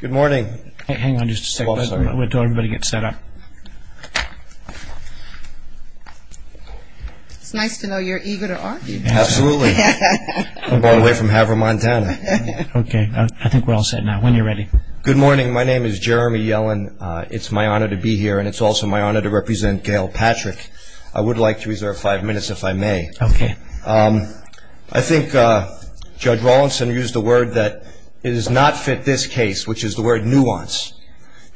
Good morning. Hang on just a second, wait until everybody gets set up. It's nice to know you're eager to argue. Absolutely. I'm all the way from Havermont, Montana. Okay, I think we're all set now. When you're ready. Good morning, my name is Jeremy Yellen. It's my honor to be here and it's also my honor to represent Gayle Patrick. I would like to reserve five minutes if I may. Okay. I think Judge Rawlinson used the word that it does not fit this case, which is the word nuance.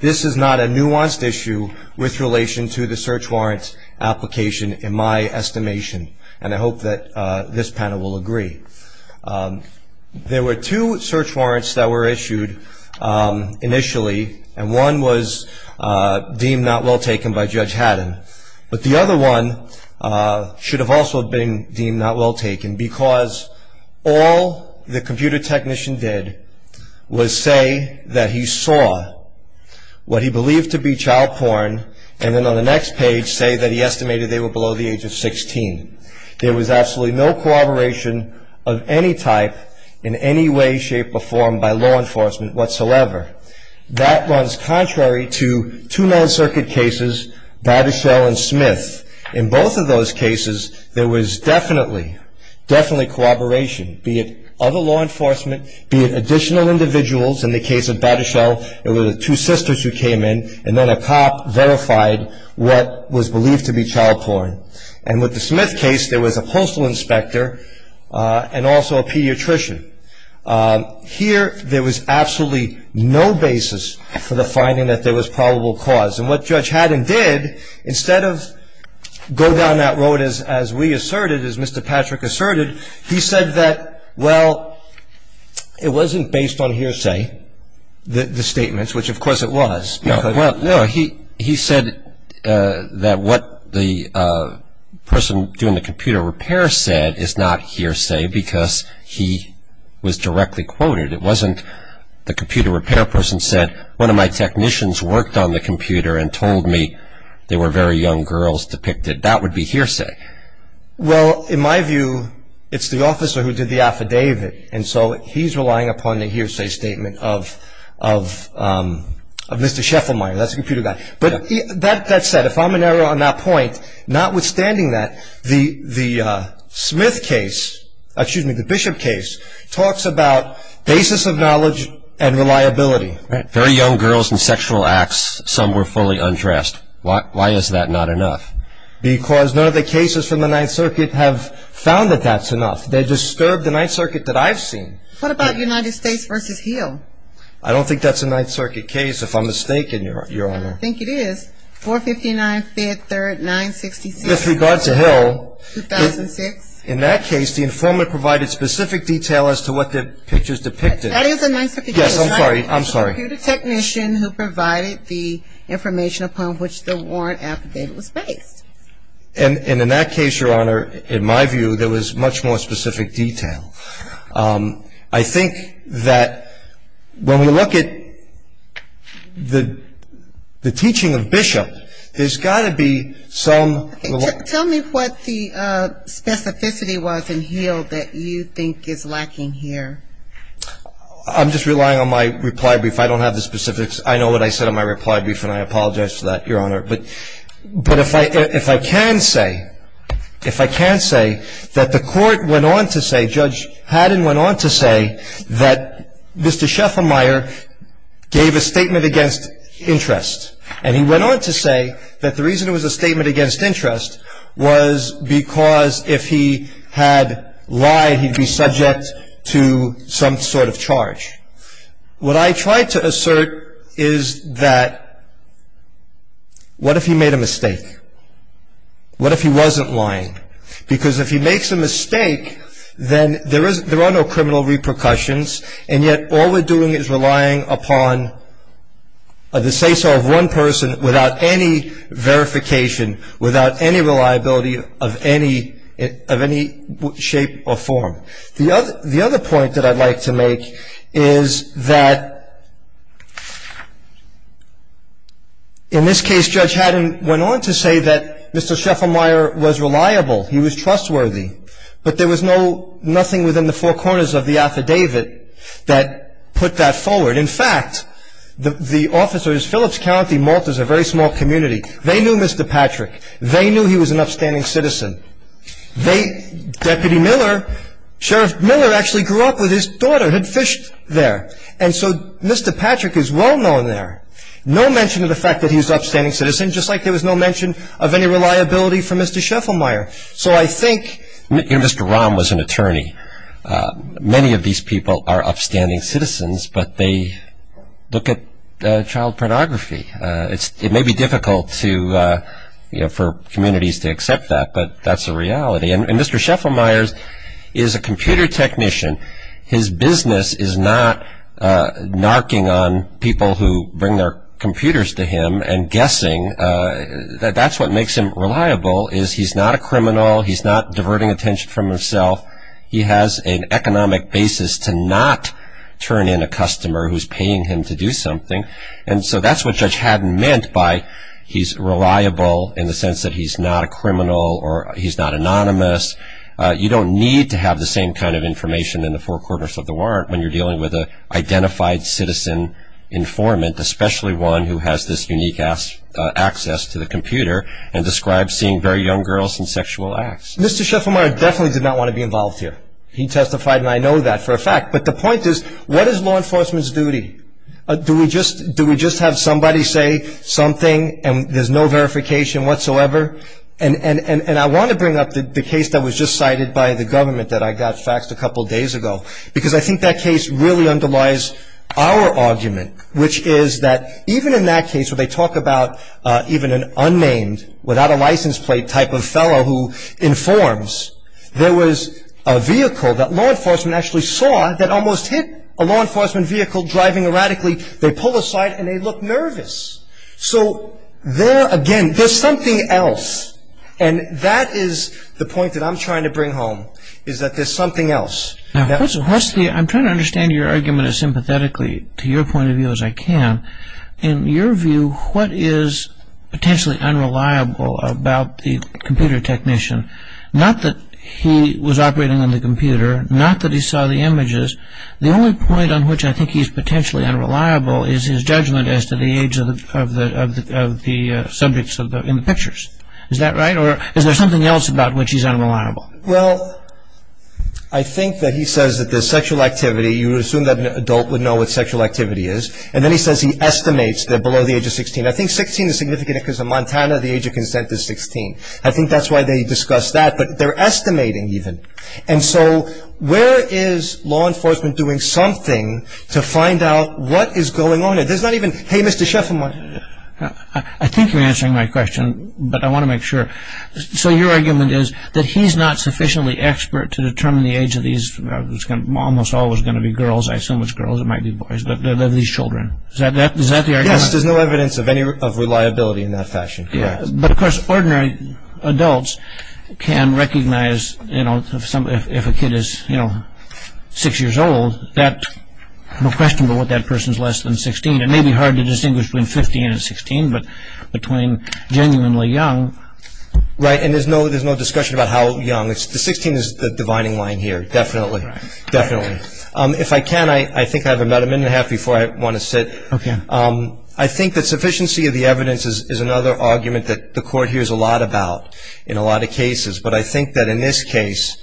This is not a nuanced issue with relation to the search warrant application in my estimation. And I hope that this panel will agree. There were two search warrants that were issued initially, and one was deemed not well taken by Judge Haddon. But the other one should have also been deemed not well taken because all the computer technician did was say that he saw what he believed to be child porn, and then on the next page say that he estimated they were below the age of 16. There was absolutely no corroboration of any type in any way, shape, or form by law enforcement whatsoever. That runs contrary to two non-circuit cases, Bateshell and Smith. In both of those cases, there was definitely, definitely corroboration, be it other law enforcement, be it additional individuals. In the case of Bateshell, it was the two sisters who came in, and then a cop verified what was believed to be child porn. And with the Smith case, there was a postal inspector and also a pediatrician. Here, there was absolutely no basis for the finding that there was probable cause. And what Judge Haddon did, instead of go down that road as we asserted, as Mr. Patrick asserted, he said that, well, it wasn't based on hearsay, the statements, which of course it was. Well, no, he said that what the person doing the computer repair said is not hearsay because he was directly quoted. It wasn't the computer repair person said, one of my technicians worked on the computer and told me there were very young girls depicted. That would be hearsay. Well, in my view, it's the officer who did the affidavit, and so he's relying upon the hearsay statement of Mr. Scheffelmeyer. That's the computer guy. But that said, if I'm in error on that point, notwithstanding that, the Smith case, excuse me, the Bishop case, talks about basis of knowledge and reliability. Very young girls in sexual acts, some were fully undressed. Why is that not enough? Because none of the cases from the Ninth Circuit have found that that's enough. They've disturbed the Ninth Circuit that I've seen. What about United States v. Hill? I don't think that's a Ninth Circuit case, if I'm mistaken, Your Honor. I think it is. 459, 5th, 3rd, 966. With regard to Hill. 2006. In that case, the informant provided specific detail as to what the pictures depicted. That is a Ninth Circuit case. Yes, I'm sorry, I'm sorry. The computer technician who provided the information upon which the warrant affidavit was based. And in that case, Your Honor, in my view, there was much more specific detail. I think that when we look at the teaching of Bishop, there's got to be some. Tell me what the specificity was in Hill that you think is lacking here. I'm just relying on my reply brief. I don't have the specifics. I know what I said in my reply brief, and I apologize for that, Your Honor. But if I can say, if I can say that the court went on to say, Judge Haddon went on to say, that Mr. Scheffelmeyer gave a statement against interest. And he went on to say that the reason it was a statement against interest was because if he had lied, he'd be subject to some sort of charge. What I try to assert is that what if he made a mistake? What if he wasn't lying? Because if he makes a mistake, then there are no criminal repercussions, and yet all we're doing is relying upon the say-so of one person without any verification, without any reliability of any shape or form. The other point that I'd like to make is that in this case, Judge Haddon went on to say that Mr. Scheffelmeyer was reliable. He was trustworthy. But there was nothing within the four corners of the affidavit that put that forward. In fact, the officers, Phillips County, Malta, is a very small community. They knew Mr. Patrick. They knew he was an upstanding citizen. They, Deputy Miller, Sheriff Miller actually grew up with his daughter, had fished there. And so Mr. Patrick is well-known there. No mention of the fact that he was an upstanding citizen, just like there was no mention of any reliability from Mr. Scheffelmeyer. So I think Mr. Rahm was an attorney. Many of these people are upstanding citizens, but they look at child pornography. It may be difficult for communities to accept that, but that's a reality. And Mr. Scheffelmeyer is a computer technician. His business is not narking on people who bring their computers to him and guessing. That's what makes him reliable, is he's not a criminal. He's not diverting attention from himself. He has an economic basis to not turn in a customer who's paying him to do something. And so that's what Judge Haddon meant by he's reliable in the sense that he's not a criminal or he's not anonymous. You don't need to have the same kind of information in the four corners of the warrant when you're dealing with an identified citizen informant, especially one who has this unique access to the computer and describes seeing very young girls and sexual acts. Mr. Scheffelmeyer definitely did not want to be involved here. He testified, and I know that for a fact. But the point is, what is law enforcement's duty? Do we just have somebody say something and there's no verification whatsoever? And I want to bring up the case that was just cited by the government that I got faxed a couple days ago, because I think that case really underlies our argument, which is that even in that case where they talk about even an unnamed, without a license plate type of fellow who informs, there was a vehicle that law enforcement actually saw that almost hit a law enforcement vehicle driving erratically. They pull aside and they look nervous. So there, again, there's something else. And that is the point that I'm trying to bring home, is that there's something else. I'm trying to understand your argument as sympathetically, to your point of view as I can. In your view, what is potentially unreliable about the computer technician? Not that he was operating on the computer. Not that he saw the images. The only point on which I think he's potentially unreliable is his judgment as to the age of the subjects in the pictures. Is that right? Or is there something else about which he's unreliable? Well, I think that he says that there's sexual activity. You would assume that an adult would know what sexual activity is. And then he says he estimates that below the age of 16. I think 16 is significant because in Montana the age of consent is 16. I think that's why they discuss that. But they're estimating even. And so where is law enforcement doing something to find out what is going on? There's not even, hey, Mr. Sheffield. I think you're answering my question, but I want to make sure. So your argument is that he's not sufficiently expert to determine the age of these, it's almost always going to be girls, I assume it's girls, it might be boys, of these children. Is that the argument? Yes, there's no evidence of reliability in that fashion. But, of course, ordinary adults can recognize if a kid is six years old, no question about what that person is less than 16. It may be hard to distinguish between 15 and 16, but between genuinely young. Right, and there's no discussion about how young. The 16 is the dividing line here, definitely. If I can, I think I have about a minute and a half before I want to sit. Okay. I think that sufficiency of the evidence is another argument that the court hears a lot about in a lot of cases. But I think that in this case,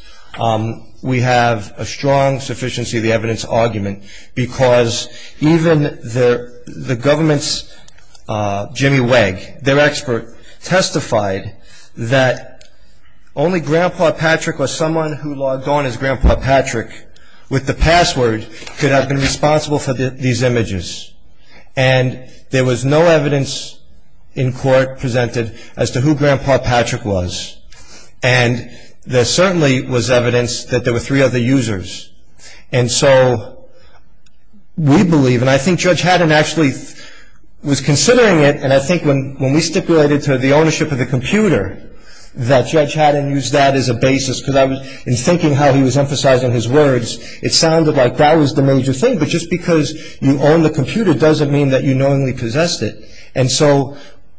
we have a strong sufficiency of the evidence argument because even the government's Jimmy Wegg, their expert, testified that only Grandpa Patrick or someone who logged on as Grandpa Patrick with the password could have been responsible for these images. And there was no evidence in court presented as to who Grandpa Patrick was. And there certainly was evidence that there were three other users. And so we believe, and I think Judge Haddon actually was considering it, and I think when we stipulated to the ownership of the computer that Judge Haddon use that as a basis because in thinking how he was emphasizing his words, it sounded like that was the major thing. But just because you own the computer doesn't mean that you knowingly possessed it. And so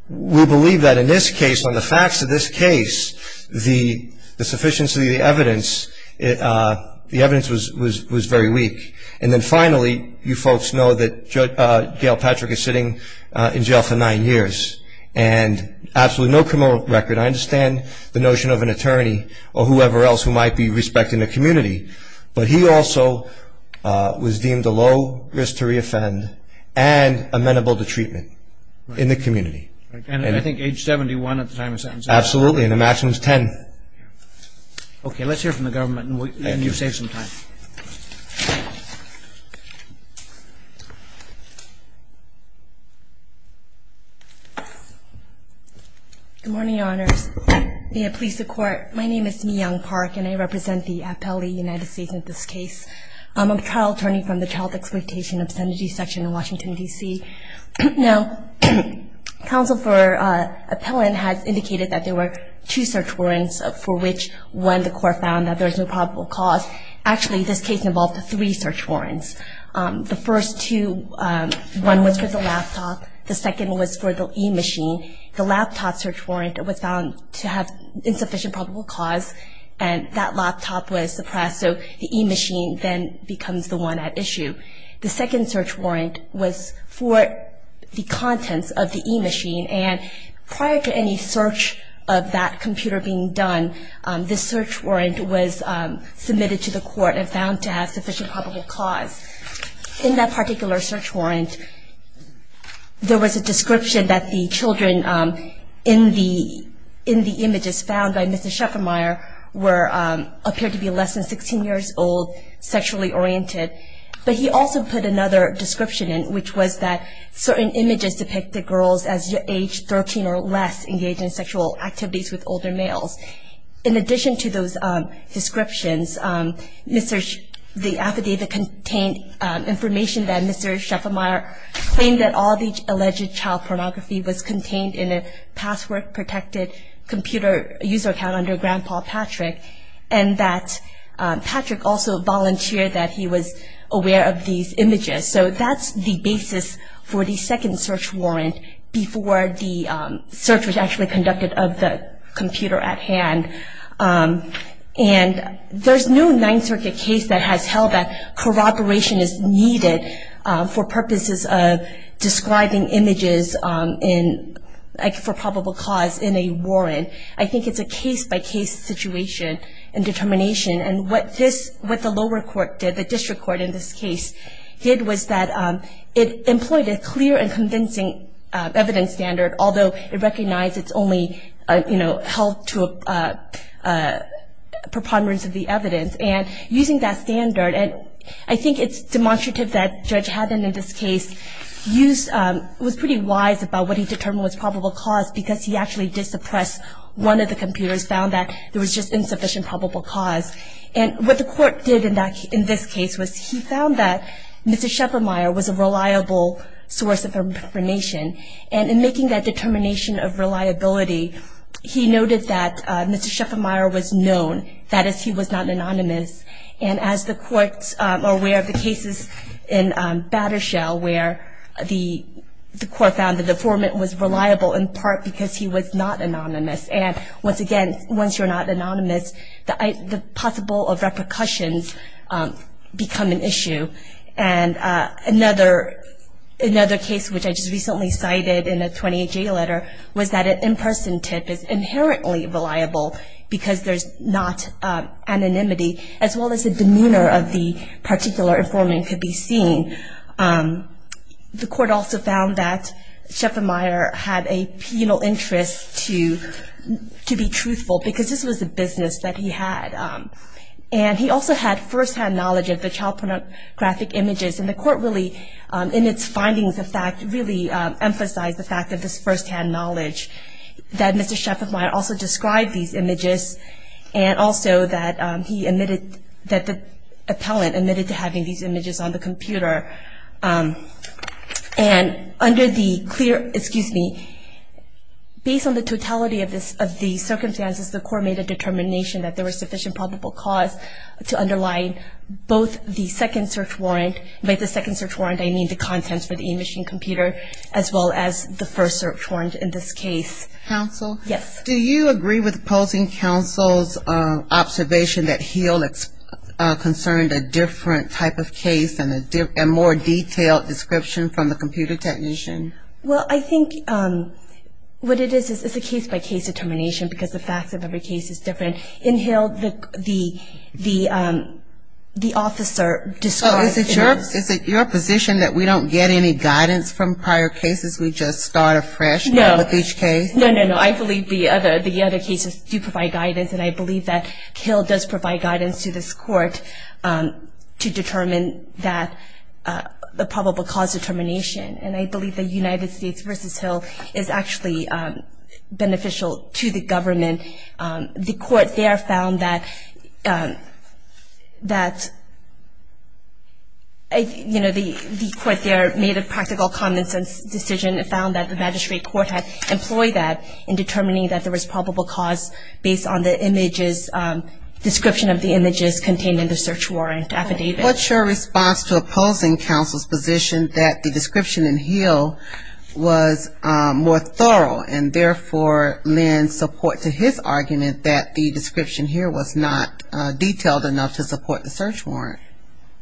we believe that in this case, on the facts of this case, the sufficiency of the evidence was very weak. And then finally, you folks know that Gail Patrick is sitting in jail for nine years and absolutely no criminal record. And I understand the notion of an attorney or whoever else who might be respecting the community, but he also was deemed a low risk to re-offend and amenable to treatment in the community. And I think age 71 at the time of sentence. Absolutely, and a maximum of 10. Okay, let's hear from the government and you'll save some time. Good morning, Your Honors. May it please the Court. My name is Mi-Young Park, and I represent the appellee United States in this case. I'm a trial attorney from the Child Exploitation and Obscenity Section in Washington, D.C. Now, counsel for appellant has indicated that there were two search warrants for which when the court found that there was no probable cause, actually this case involved three search warrants. The first two, one was for the laptop, the second was for the e-machine. The laptop search warrant was found to have insufficient probable cause, and that laptop was suppressed, so the e-machine then becomes the one at issue. The second search warrant was for the contents of the e-machine, and prior to any search of that computer being done, this search warrant was submitted to the court and found to have sufficient probable cause. In that particular search warrant, there was a description that the children in the images found by Mr. Scheffermeyer appeared to be less than 16 years old, sexually oriented. But he also put another description in, which was that certain images depict the girls as age 13 or less engaged in sexual activities with older males. In addition to those descriptions, the affidavit contained information that Mr. Scheffermeyer claimed that all the alleged child pornography was contained in a password-protected computer user account under Grandpa Patrick, and that Patrick also volunteered that he was aware of these images. So that's the basis for the second search warrant, before the search was actually conducted of the computer at hand. And there's no Ninth Circuit case that has held that corroboration is needed for purposes of describing images for probable cause in a warrant. I think it's a case-by-case situation in determination. And what the lower court did, the district court in this case, did was that it employed a clear and convincing evidence standard, although it recognized it's only held to a preponderance of the evidence. And using that standard, and I think it's demonstrative that Judge Haddon in this case was pretty wise about what he determined was probable cause, because he actually did suppress one of the computers, found that there was just insufficient probable cause. And what the court did in this case was he found that Mr. Scheffermeyer was a reliable source of information. And in making that determination of reliability, he noted that Mr. Scheffermeyer was known, that is, he was not anonymous. And as the courts are aware of the cases in Battershell where the court found the deformant was reliable, in part because he was not anonymous. And once again, once you're not anonymous, the possible repercussions become an issue. And another case which I just recently cited in a 28-J letter was that an in-person tip is inherently reliable because there's not anonymity, as well as the demeanor of the particular informant could be seen. The court also found that Scheffermeyer had a penal interest to be truthful, because this was a business that he had. And he also had first-hand knowledge of the child pornographic images, and the court really, in its findings of fact, really emphasized the fact of this first-hand knowledge that Mr. Scheffermeyer also described these images, and also that he admitted that the appellant admitted to having these images on the computer. And under the clear, excuse me, based on the totality of the circumstances, the court made a determination that there was sufficient probable cause to underline both the second search warrant, by the second search warrant I mean the contents for the imaging computer, as well as the first search warrant in this case. Counsel? Yes. Do you agree with opposing counsel's observation that Hill concerned a different type of case and a more detailed description from the computer technician? Well, I think what it is is a case-by-case determination, because the facts of every case is different. And in Hill, the officer described in the- Oh, is it your position that we don't get any guidance from prior cases? We just start afresh with each case? No. No, no, no. I believe the other cases do provide guidance, and I believe that Hill does provide guidance to this court to determine that probable cause determination. And I believe that United States v. Hill is actually beneficial to the government. The court there found that, you know, the court there made a practical common-sense decision and found that the magistrate court had employed that in determining that there was probable cause based on the images, description of the images contained in the search warrant affidavit. What's your response to opposing counsel's position that the description in Hill was more thorough and therefore lends support to his argument that the description here was not detailed enough to support the search warrant?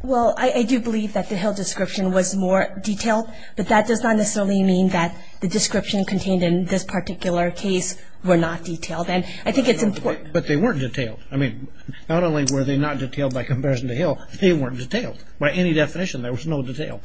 Well, I do believe that the Hill description was more detailed, but that does not necessarily mean that the description contained in this particular case were not detailed. And I think it's important- But they weren't detailed. I mean, not only were they not detailed by comparison to Hill, they weren't detailed. By any definition, there was no detail.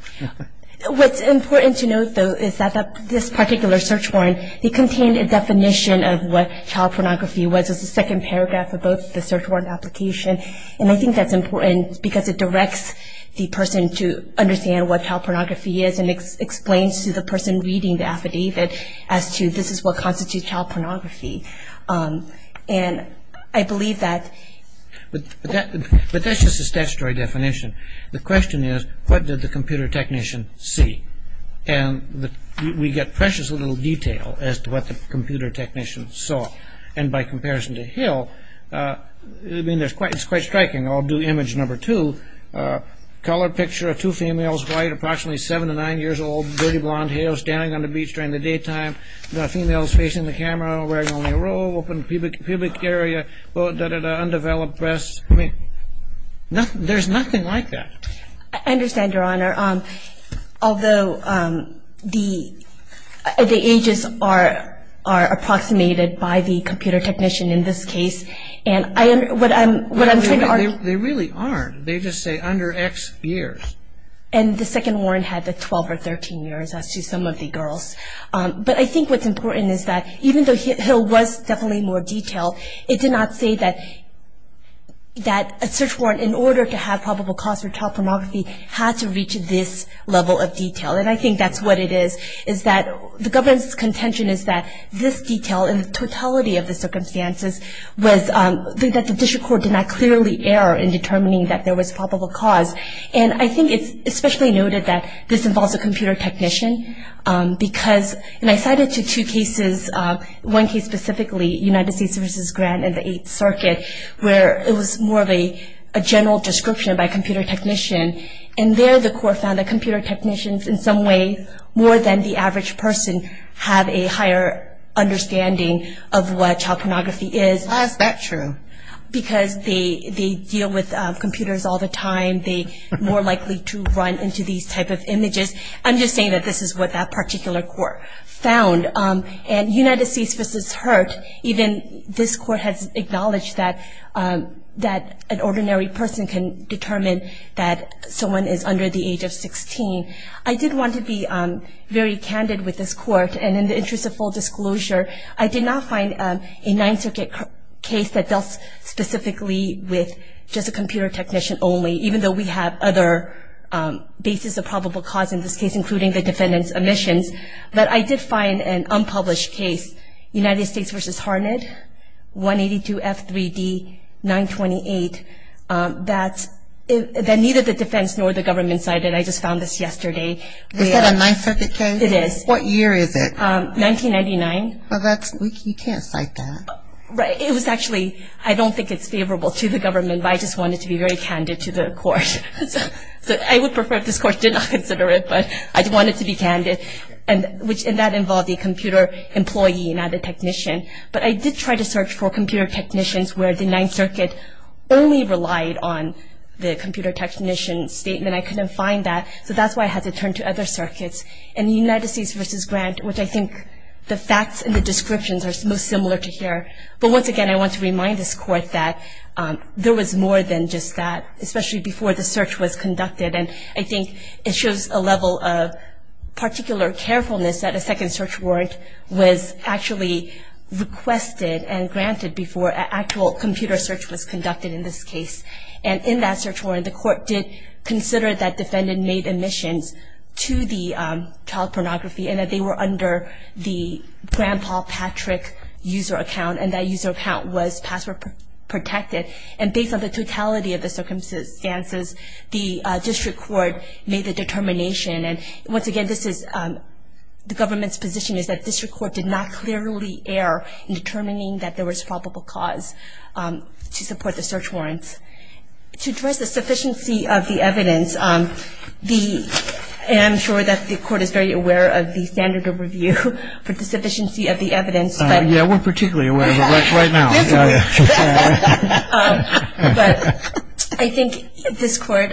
What's important to note, though, is that this particular search warrant, it contained a definition of what child pornography was as a second paragraph of both the search warrant application. And I think that's important because it directs the person to understand what child pornography is and explains to the person reading the affidavit as to this is what constitutes child pornography. And I believe that- But that's just a statutory definition. The question is, what did the computer technician see? And we get precious little detail as to what the computer technician saw. And by comparison to Hill, I mean, it's quite striking. I'll do image number two. Color picture of two females, white, approximately seven to nine years old, dirty blonde hair, standing on the beach during the daytime, the females facing the camera, wearing only a robe, open pubic area, undeveloped breasts. I mean, there's nothing like that. I understand, Your Honor. Although the ages are approximated by the computer technician in this case. And what I'm trying to argue- They really aren't. They just say under X years. And the second warrant had the 12 or 13 years as to some of the girls. But I think what's important is that even though Hill was definitely more detailed, it did not say that a search warrant, in order to have probable cause for child pornography, had to reach this level of detail. And I think that's what it is, is that the government's contention is that this detail and the totality of the circumstances was that the district court did not clearly err in determining that there was probable cause. And I think it's especially noted that this involves a computer technician because- where it was more of a general description by a computer technician. And there the court found that computer technicians, in some way, more than the average person, have a higher understanding of what child pornography is. Why is that true? Because they deal with computers all the time. They're more likely to run into these type of images. I'm just saying that this is what that particular court found. And United States v. Hurt, even this court has acknowledged that an ordinary person can determine that someone is under the age of 16. I did want to be very candid with this court. And in the interest of full disclosure, I did not find a Ninth Circuit case that dealt specifically with just a computer technician only, even though we have other bases of probable cause in this case, including the defendant's omissions. But I did find an unpublished case, United States v. Harned, 182 F3D 928, that neither the defense nor the government cited. I just found this yesterday. Is that a Ninth Circuit case? It is. What year is it? 1999. Well, that's- you can't cite that. It was actually- I don't think it's favorable to the government, but I just wanted to be very candid to the court. I would prefer if this court did not consider it, but I wanted to be candid. And that involved a computer employee, not a technician. But I did try to search for computer technicians where the Ninth Circuit only relied on the computer technician statement. I couldn't find that, so that's why I had to turn to other circuits. And United States v. Grant, which I think the facts and the descriptions are most similar to here. But once again, I want to remind this court that there was more than just that, especially before the search was conducted. And I think it shows a level of particular carefulness that a second search warrant was actually requested and granted before an actual computer search was conducted in this case. And in that search warrant, the court did consider that defendant made admissions to the child pornography and that they were under the Grandpa Patrick user account, and that user account was password protected. And based on the totality of the circumstances, the district court made the determination. And once again, the government's position is that district court did not clearly err in determining that there was probable cause to support the search warrants. To address the sufficiency of the evidence, and I'm sure that the court is very aware of the standard of review for the sufficiency of the evidence. Yeah, we're particularly aware of it right now. But I think this court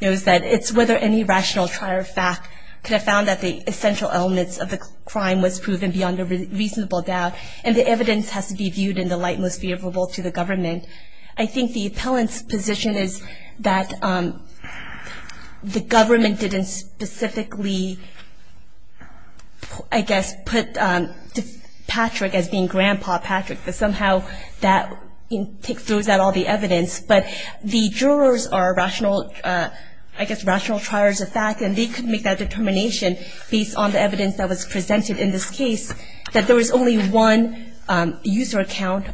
knows that it's whether any rational trial fact could have found that the essential elements of the crime was proven beyond a reasonable doubt, and the evidence has to be viewed in the light most favorable to the government. I think the appellant's position is that the government didn't specifically, I guess, put Patrick as being Grandpa Patrick, but somehow that throws out all the evidence. But the jurors are, I guess, rational triers of fact, and they could make that determination based on the evidence that was presented in this case, that there was only one user account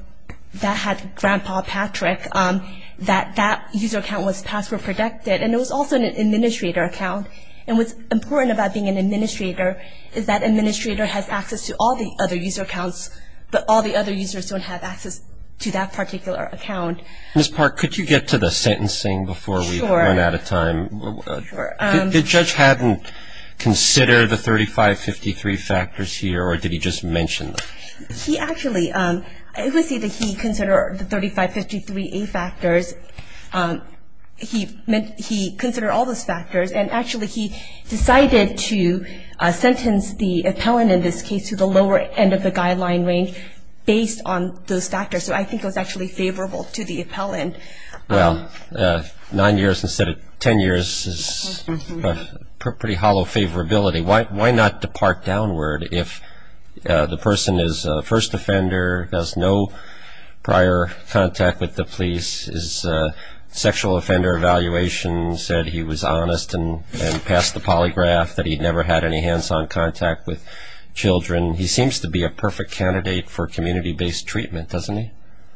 that had Grandpa Patrick, that that user account was password protected. And it was also an administrator account. And what's important about being an administrator is that an administrator has access to all the other user accounts, but all the other users don't have access to that particular account. Ms. Park, could you get to the sentencing before we run out of time? Sure. Did Judge Haddon consider the 3553 factors here, or did he just mention them? He actually, it was either he considered the 3553A factors, he considered all those factors, and actually he decided to sentence the appellant in this case to the lower end of the guideline range based on those factors. So I think it was actually favorable to the appellant. Well, nine years instead of ten years is pretty hollow favorability. Why not depart downward if the person is a first offender, has no prior contact with the police, his sexual offender evaluation said he was honest and passed the polygraph, that he never had any hands-on contact with children. He seems to be a perfect candidate for community-based treatment, doesn't he?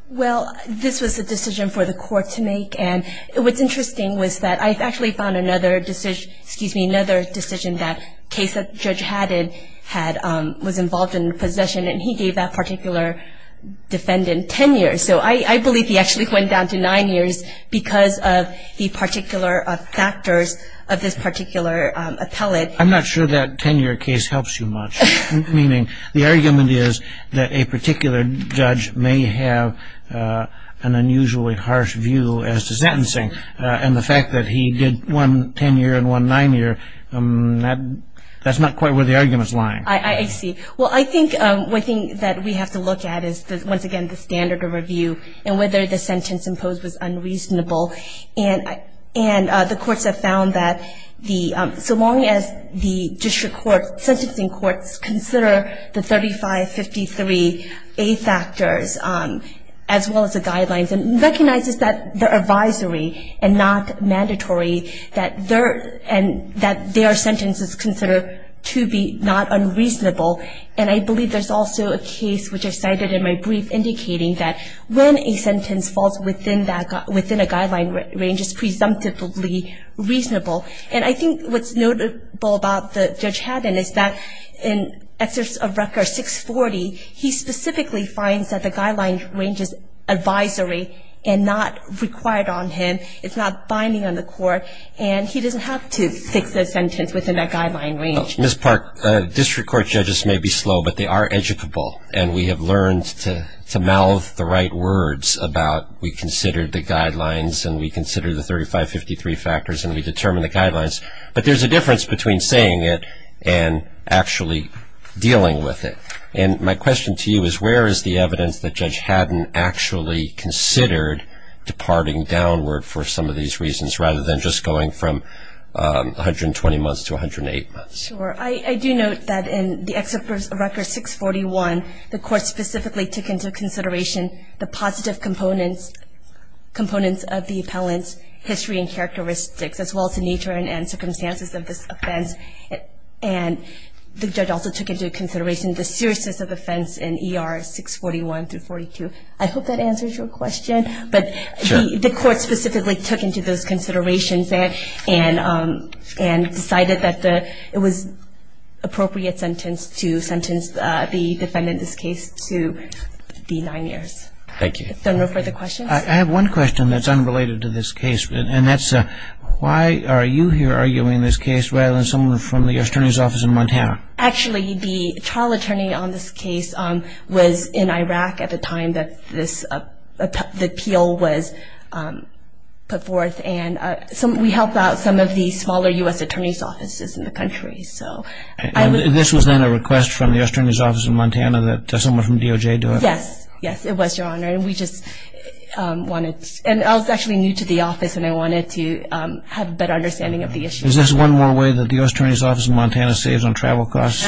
Well, this was a decision for the court to make, and what's interesting was that I actually found another decision that a case that Judge Haddon had was involved in possession, and he gave that particular defendant ten years. So I believe he actually went down to nine years because of the particular factors of this particular appellate. I'm not sure that ten-year case helps you much, meaning the argument is that a particular judge may have an unusually harsh view as to sentencing, and the fact that he did one ten-year and one nine-year, that's not quite where the argument's lying. I see. Well, I think one thing that we have to look at is, once again, the standard of review and whether the sentence imposed was unreasonable. And the courts have found that the so long as the district court, sentencing courts consider the 3553A factors as well as the guidelines and recognizes that their advisory and not mandatory, that their sentence is considered to be not unreasonable. And I believe there's also a case, which I cited in my brief, indicating that when a sentence falls within a guideline range, it's presumptively reasonable. And I think what's notable about Judge Haddon is that in Excerpts of Record 640, he specifically finds that the guideline range is advisory and not required on him. It's not binding on the court, and he doesn't have to fix a sentence within that guideline range. Ms. Park, district court judges may be slow, but they are educable, and we have learned to mouth the right words about we considered the guidelines and we considered the 3553 factors and we determined the guidelines. But there's a difference between saying it and actually dealing with it. And my question to you is, where is the evidence that Judge Haddon actually considered departing downward for some of these reasons rather than just going from 120 months to 108 months? Sure. I do note that in the Excerpts of Record 641, the court specifically took into consideration the positive components of the appellant's history and characteristics, as well as the nature and circumstances of this offense. And the judge also took into consideration the seriousness of offense in ER 641 through 42. I hope that answers your question. But the court specifically took into those considerations and decided that it was appropriate sentence to sentence the defendant in this case to be nine years. Thank you. If there are no further questions. I have one question that's unrelated to this case, and that's why are you here arguing this case rather than someone from the U.S. Attorney's Office in Montana? Actually, the trial attorney on this case was in Iraq at the time that the appeal was put forth. And we help out some of the smaller U.S. Attorney's Offices in the country. And this was then a request from the U.S. Attorney's Office in Montana that someone from DOJ do it? Yes, it was, Your Honor. And I was actually new to the office, and I wanted to have a better understanding of the issue. Is this one more way that the U.S. Attorney's Office in Montana saves on travel costs?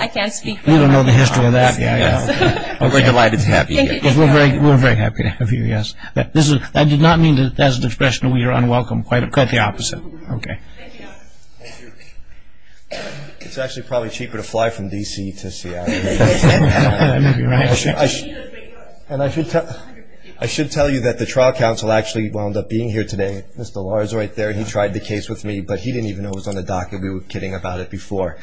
I can't speak for DOJ. You don't know the history of that. We're delighted to have you here. We're very happy to have you, yes. I did not mean that as an expression of we are unwelcome. Quite the opposite. Okay. Thank you, Your Honor. Thank you. It's actually probably cheaper to fly from D.C. to Seattle. That may be right. And I should tell you that the trial counsel actually wound up being here today. Mr. Lahr is right there. He tried the case with me, but he didn't even know it was on the docket. We were kidding about it before.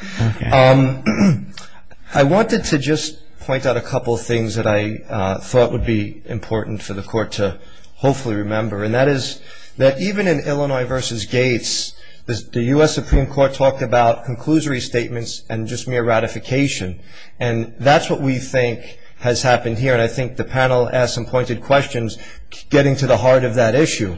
I wanted to just point out a couple of things that I thought would be important for the Court to hopefully remember. And that is that even in Illinois v. Gates, the U.S. Supreme Court talked about conclusory statements and just mere ratification. And that's what we think has happened here. And I think the panel asked some pointed questions getting to the heart of that issue.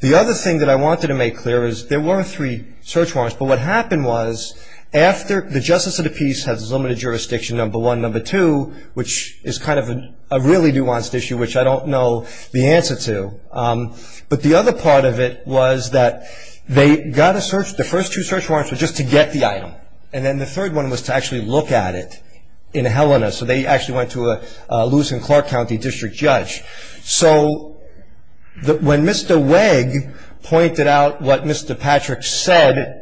The other thing that I wanted to make clear is there were three search warrants, but what happened was after the justice of the peace has limited jurisdiction, number one. Number two, which is kind of a really nuanced issue, which I don't know the answer to. But the other part of it was that they got a search. The first two search warrants were just to get the item. And then the third one was to actually look at it in Helena. So they actually went to a Lewis and Clark County district judge. So when Mr. Wegg pointed out what Mr. Patrick said,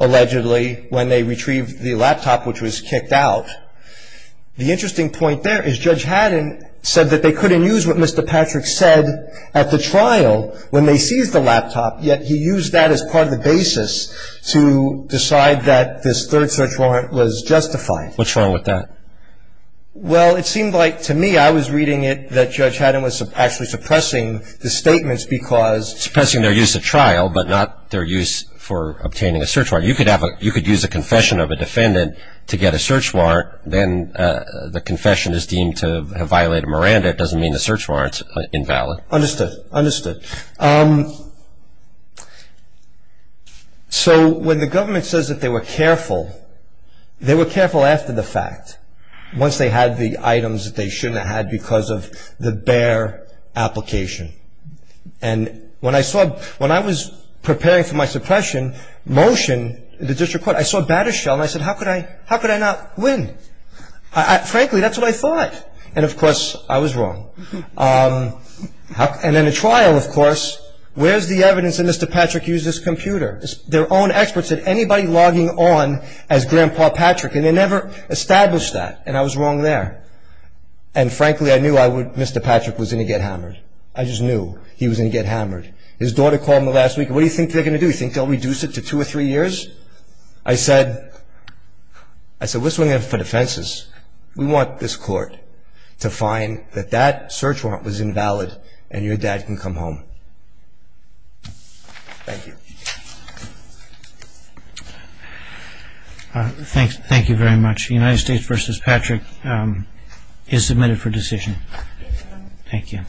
allegedly, when they retrieved the laptop which was kicked out, the interesting point there is Judge Haddon said that they couldn't use what Mr. Patrick said at the trial when they seized the laptop, yet he used that as part of the basis to decide that this third search warrant was justified. What's wrong with that? Well, it seemed like to me I was reading it that Judge Haddon was actually suppressing the statements because Suppressing their use at trial, but not their use for obtaining a search warrant. You could use a confession of a defendant to get a search warrant. Then the confession is deemed to have violated Miranda. It doesn't mean the search warrant's invalid. Understood, understood. So when the government says that they were careful, they were careful after the fact. Once they had the items that they shouldn't have had because of the bare application. And when I saw, when I was preparing for my suppression motion in the district court, I saw a batter shell and I said, how could I not win? Frankly, that's what I thought. And of course, I was wrong. And in a trial, of course, where's the evidence that Mr. Patrick used his computer? Their own experts had anybody logging on as Grandpa Patrick and they never established that. And I was wrong there. And frankly, I knew Mr. Patrick was going to get hammered. I just knew he was going to get hammered. His daughter called me last week. What do you think they're going to do? You think they'll reduce it to two or three years? I said, what's going on for defenses? We want this court to find that that search warrant was invalid and your dad can come home. Thank you. Thank you very much. United States v. Patrick is submitted for decision. Thank you.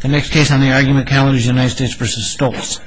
The next case on the argument calendar is United States v. Stoltz.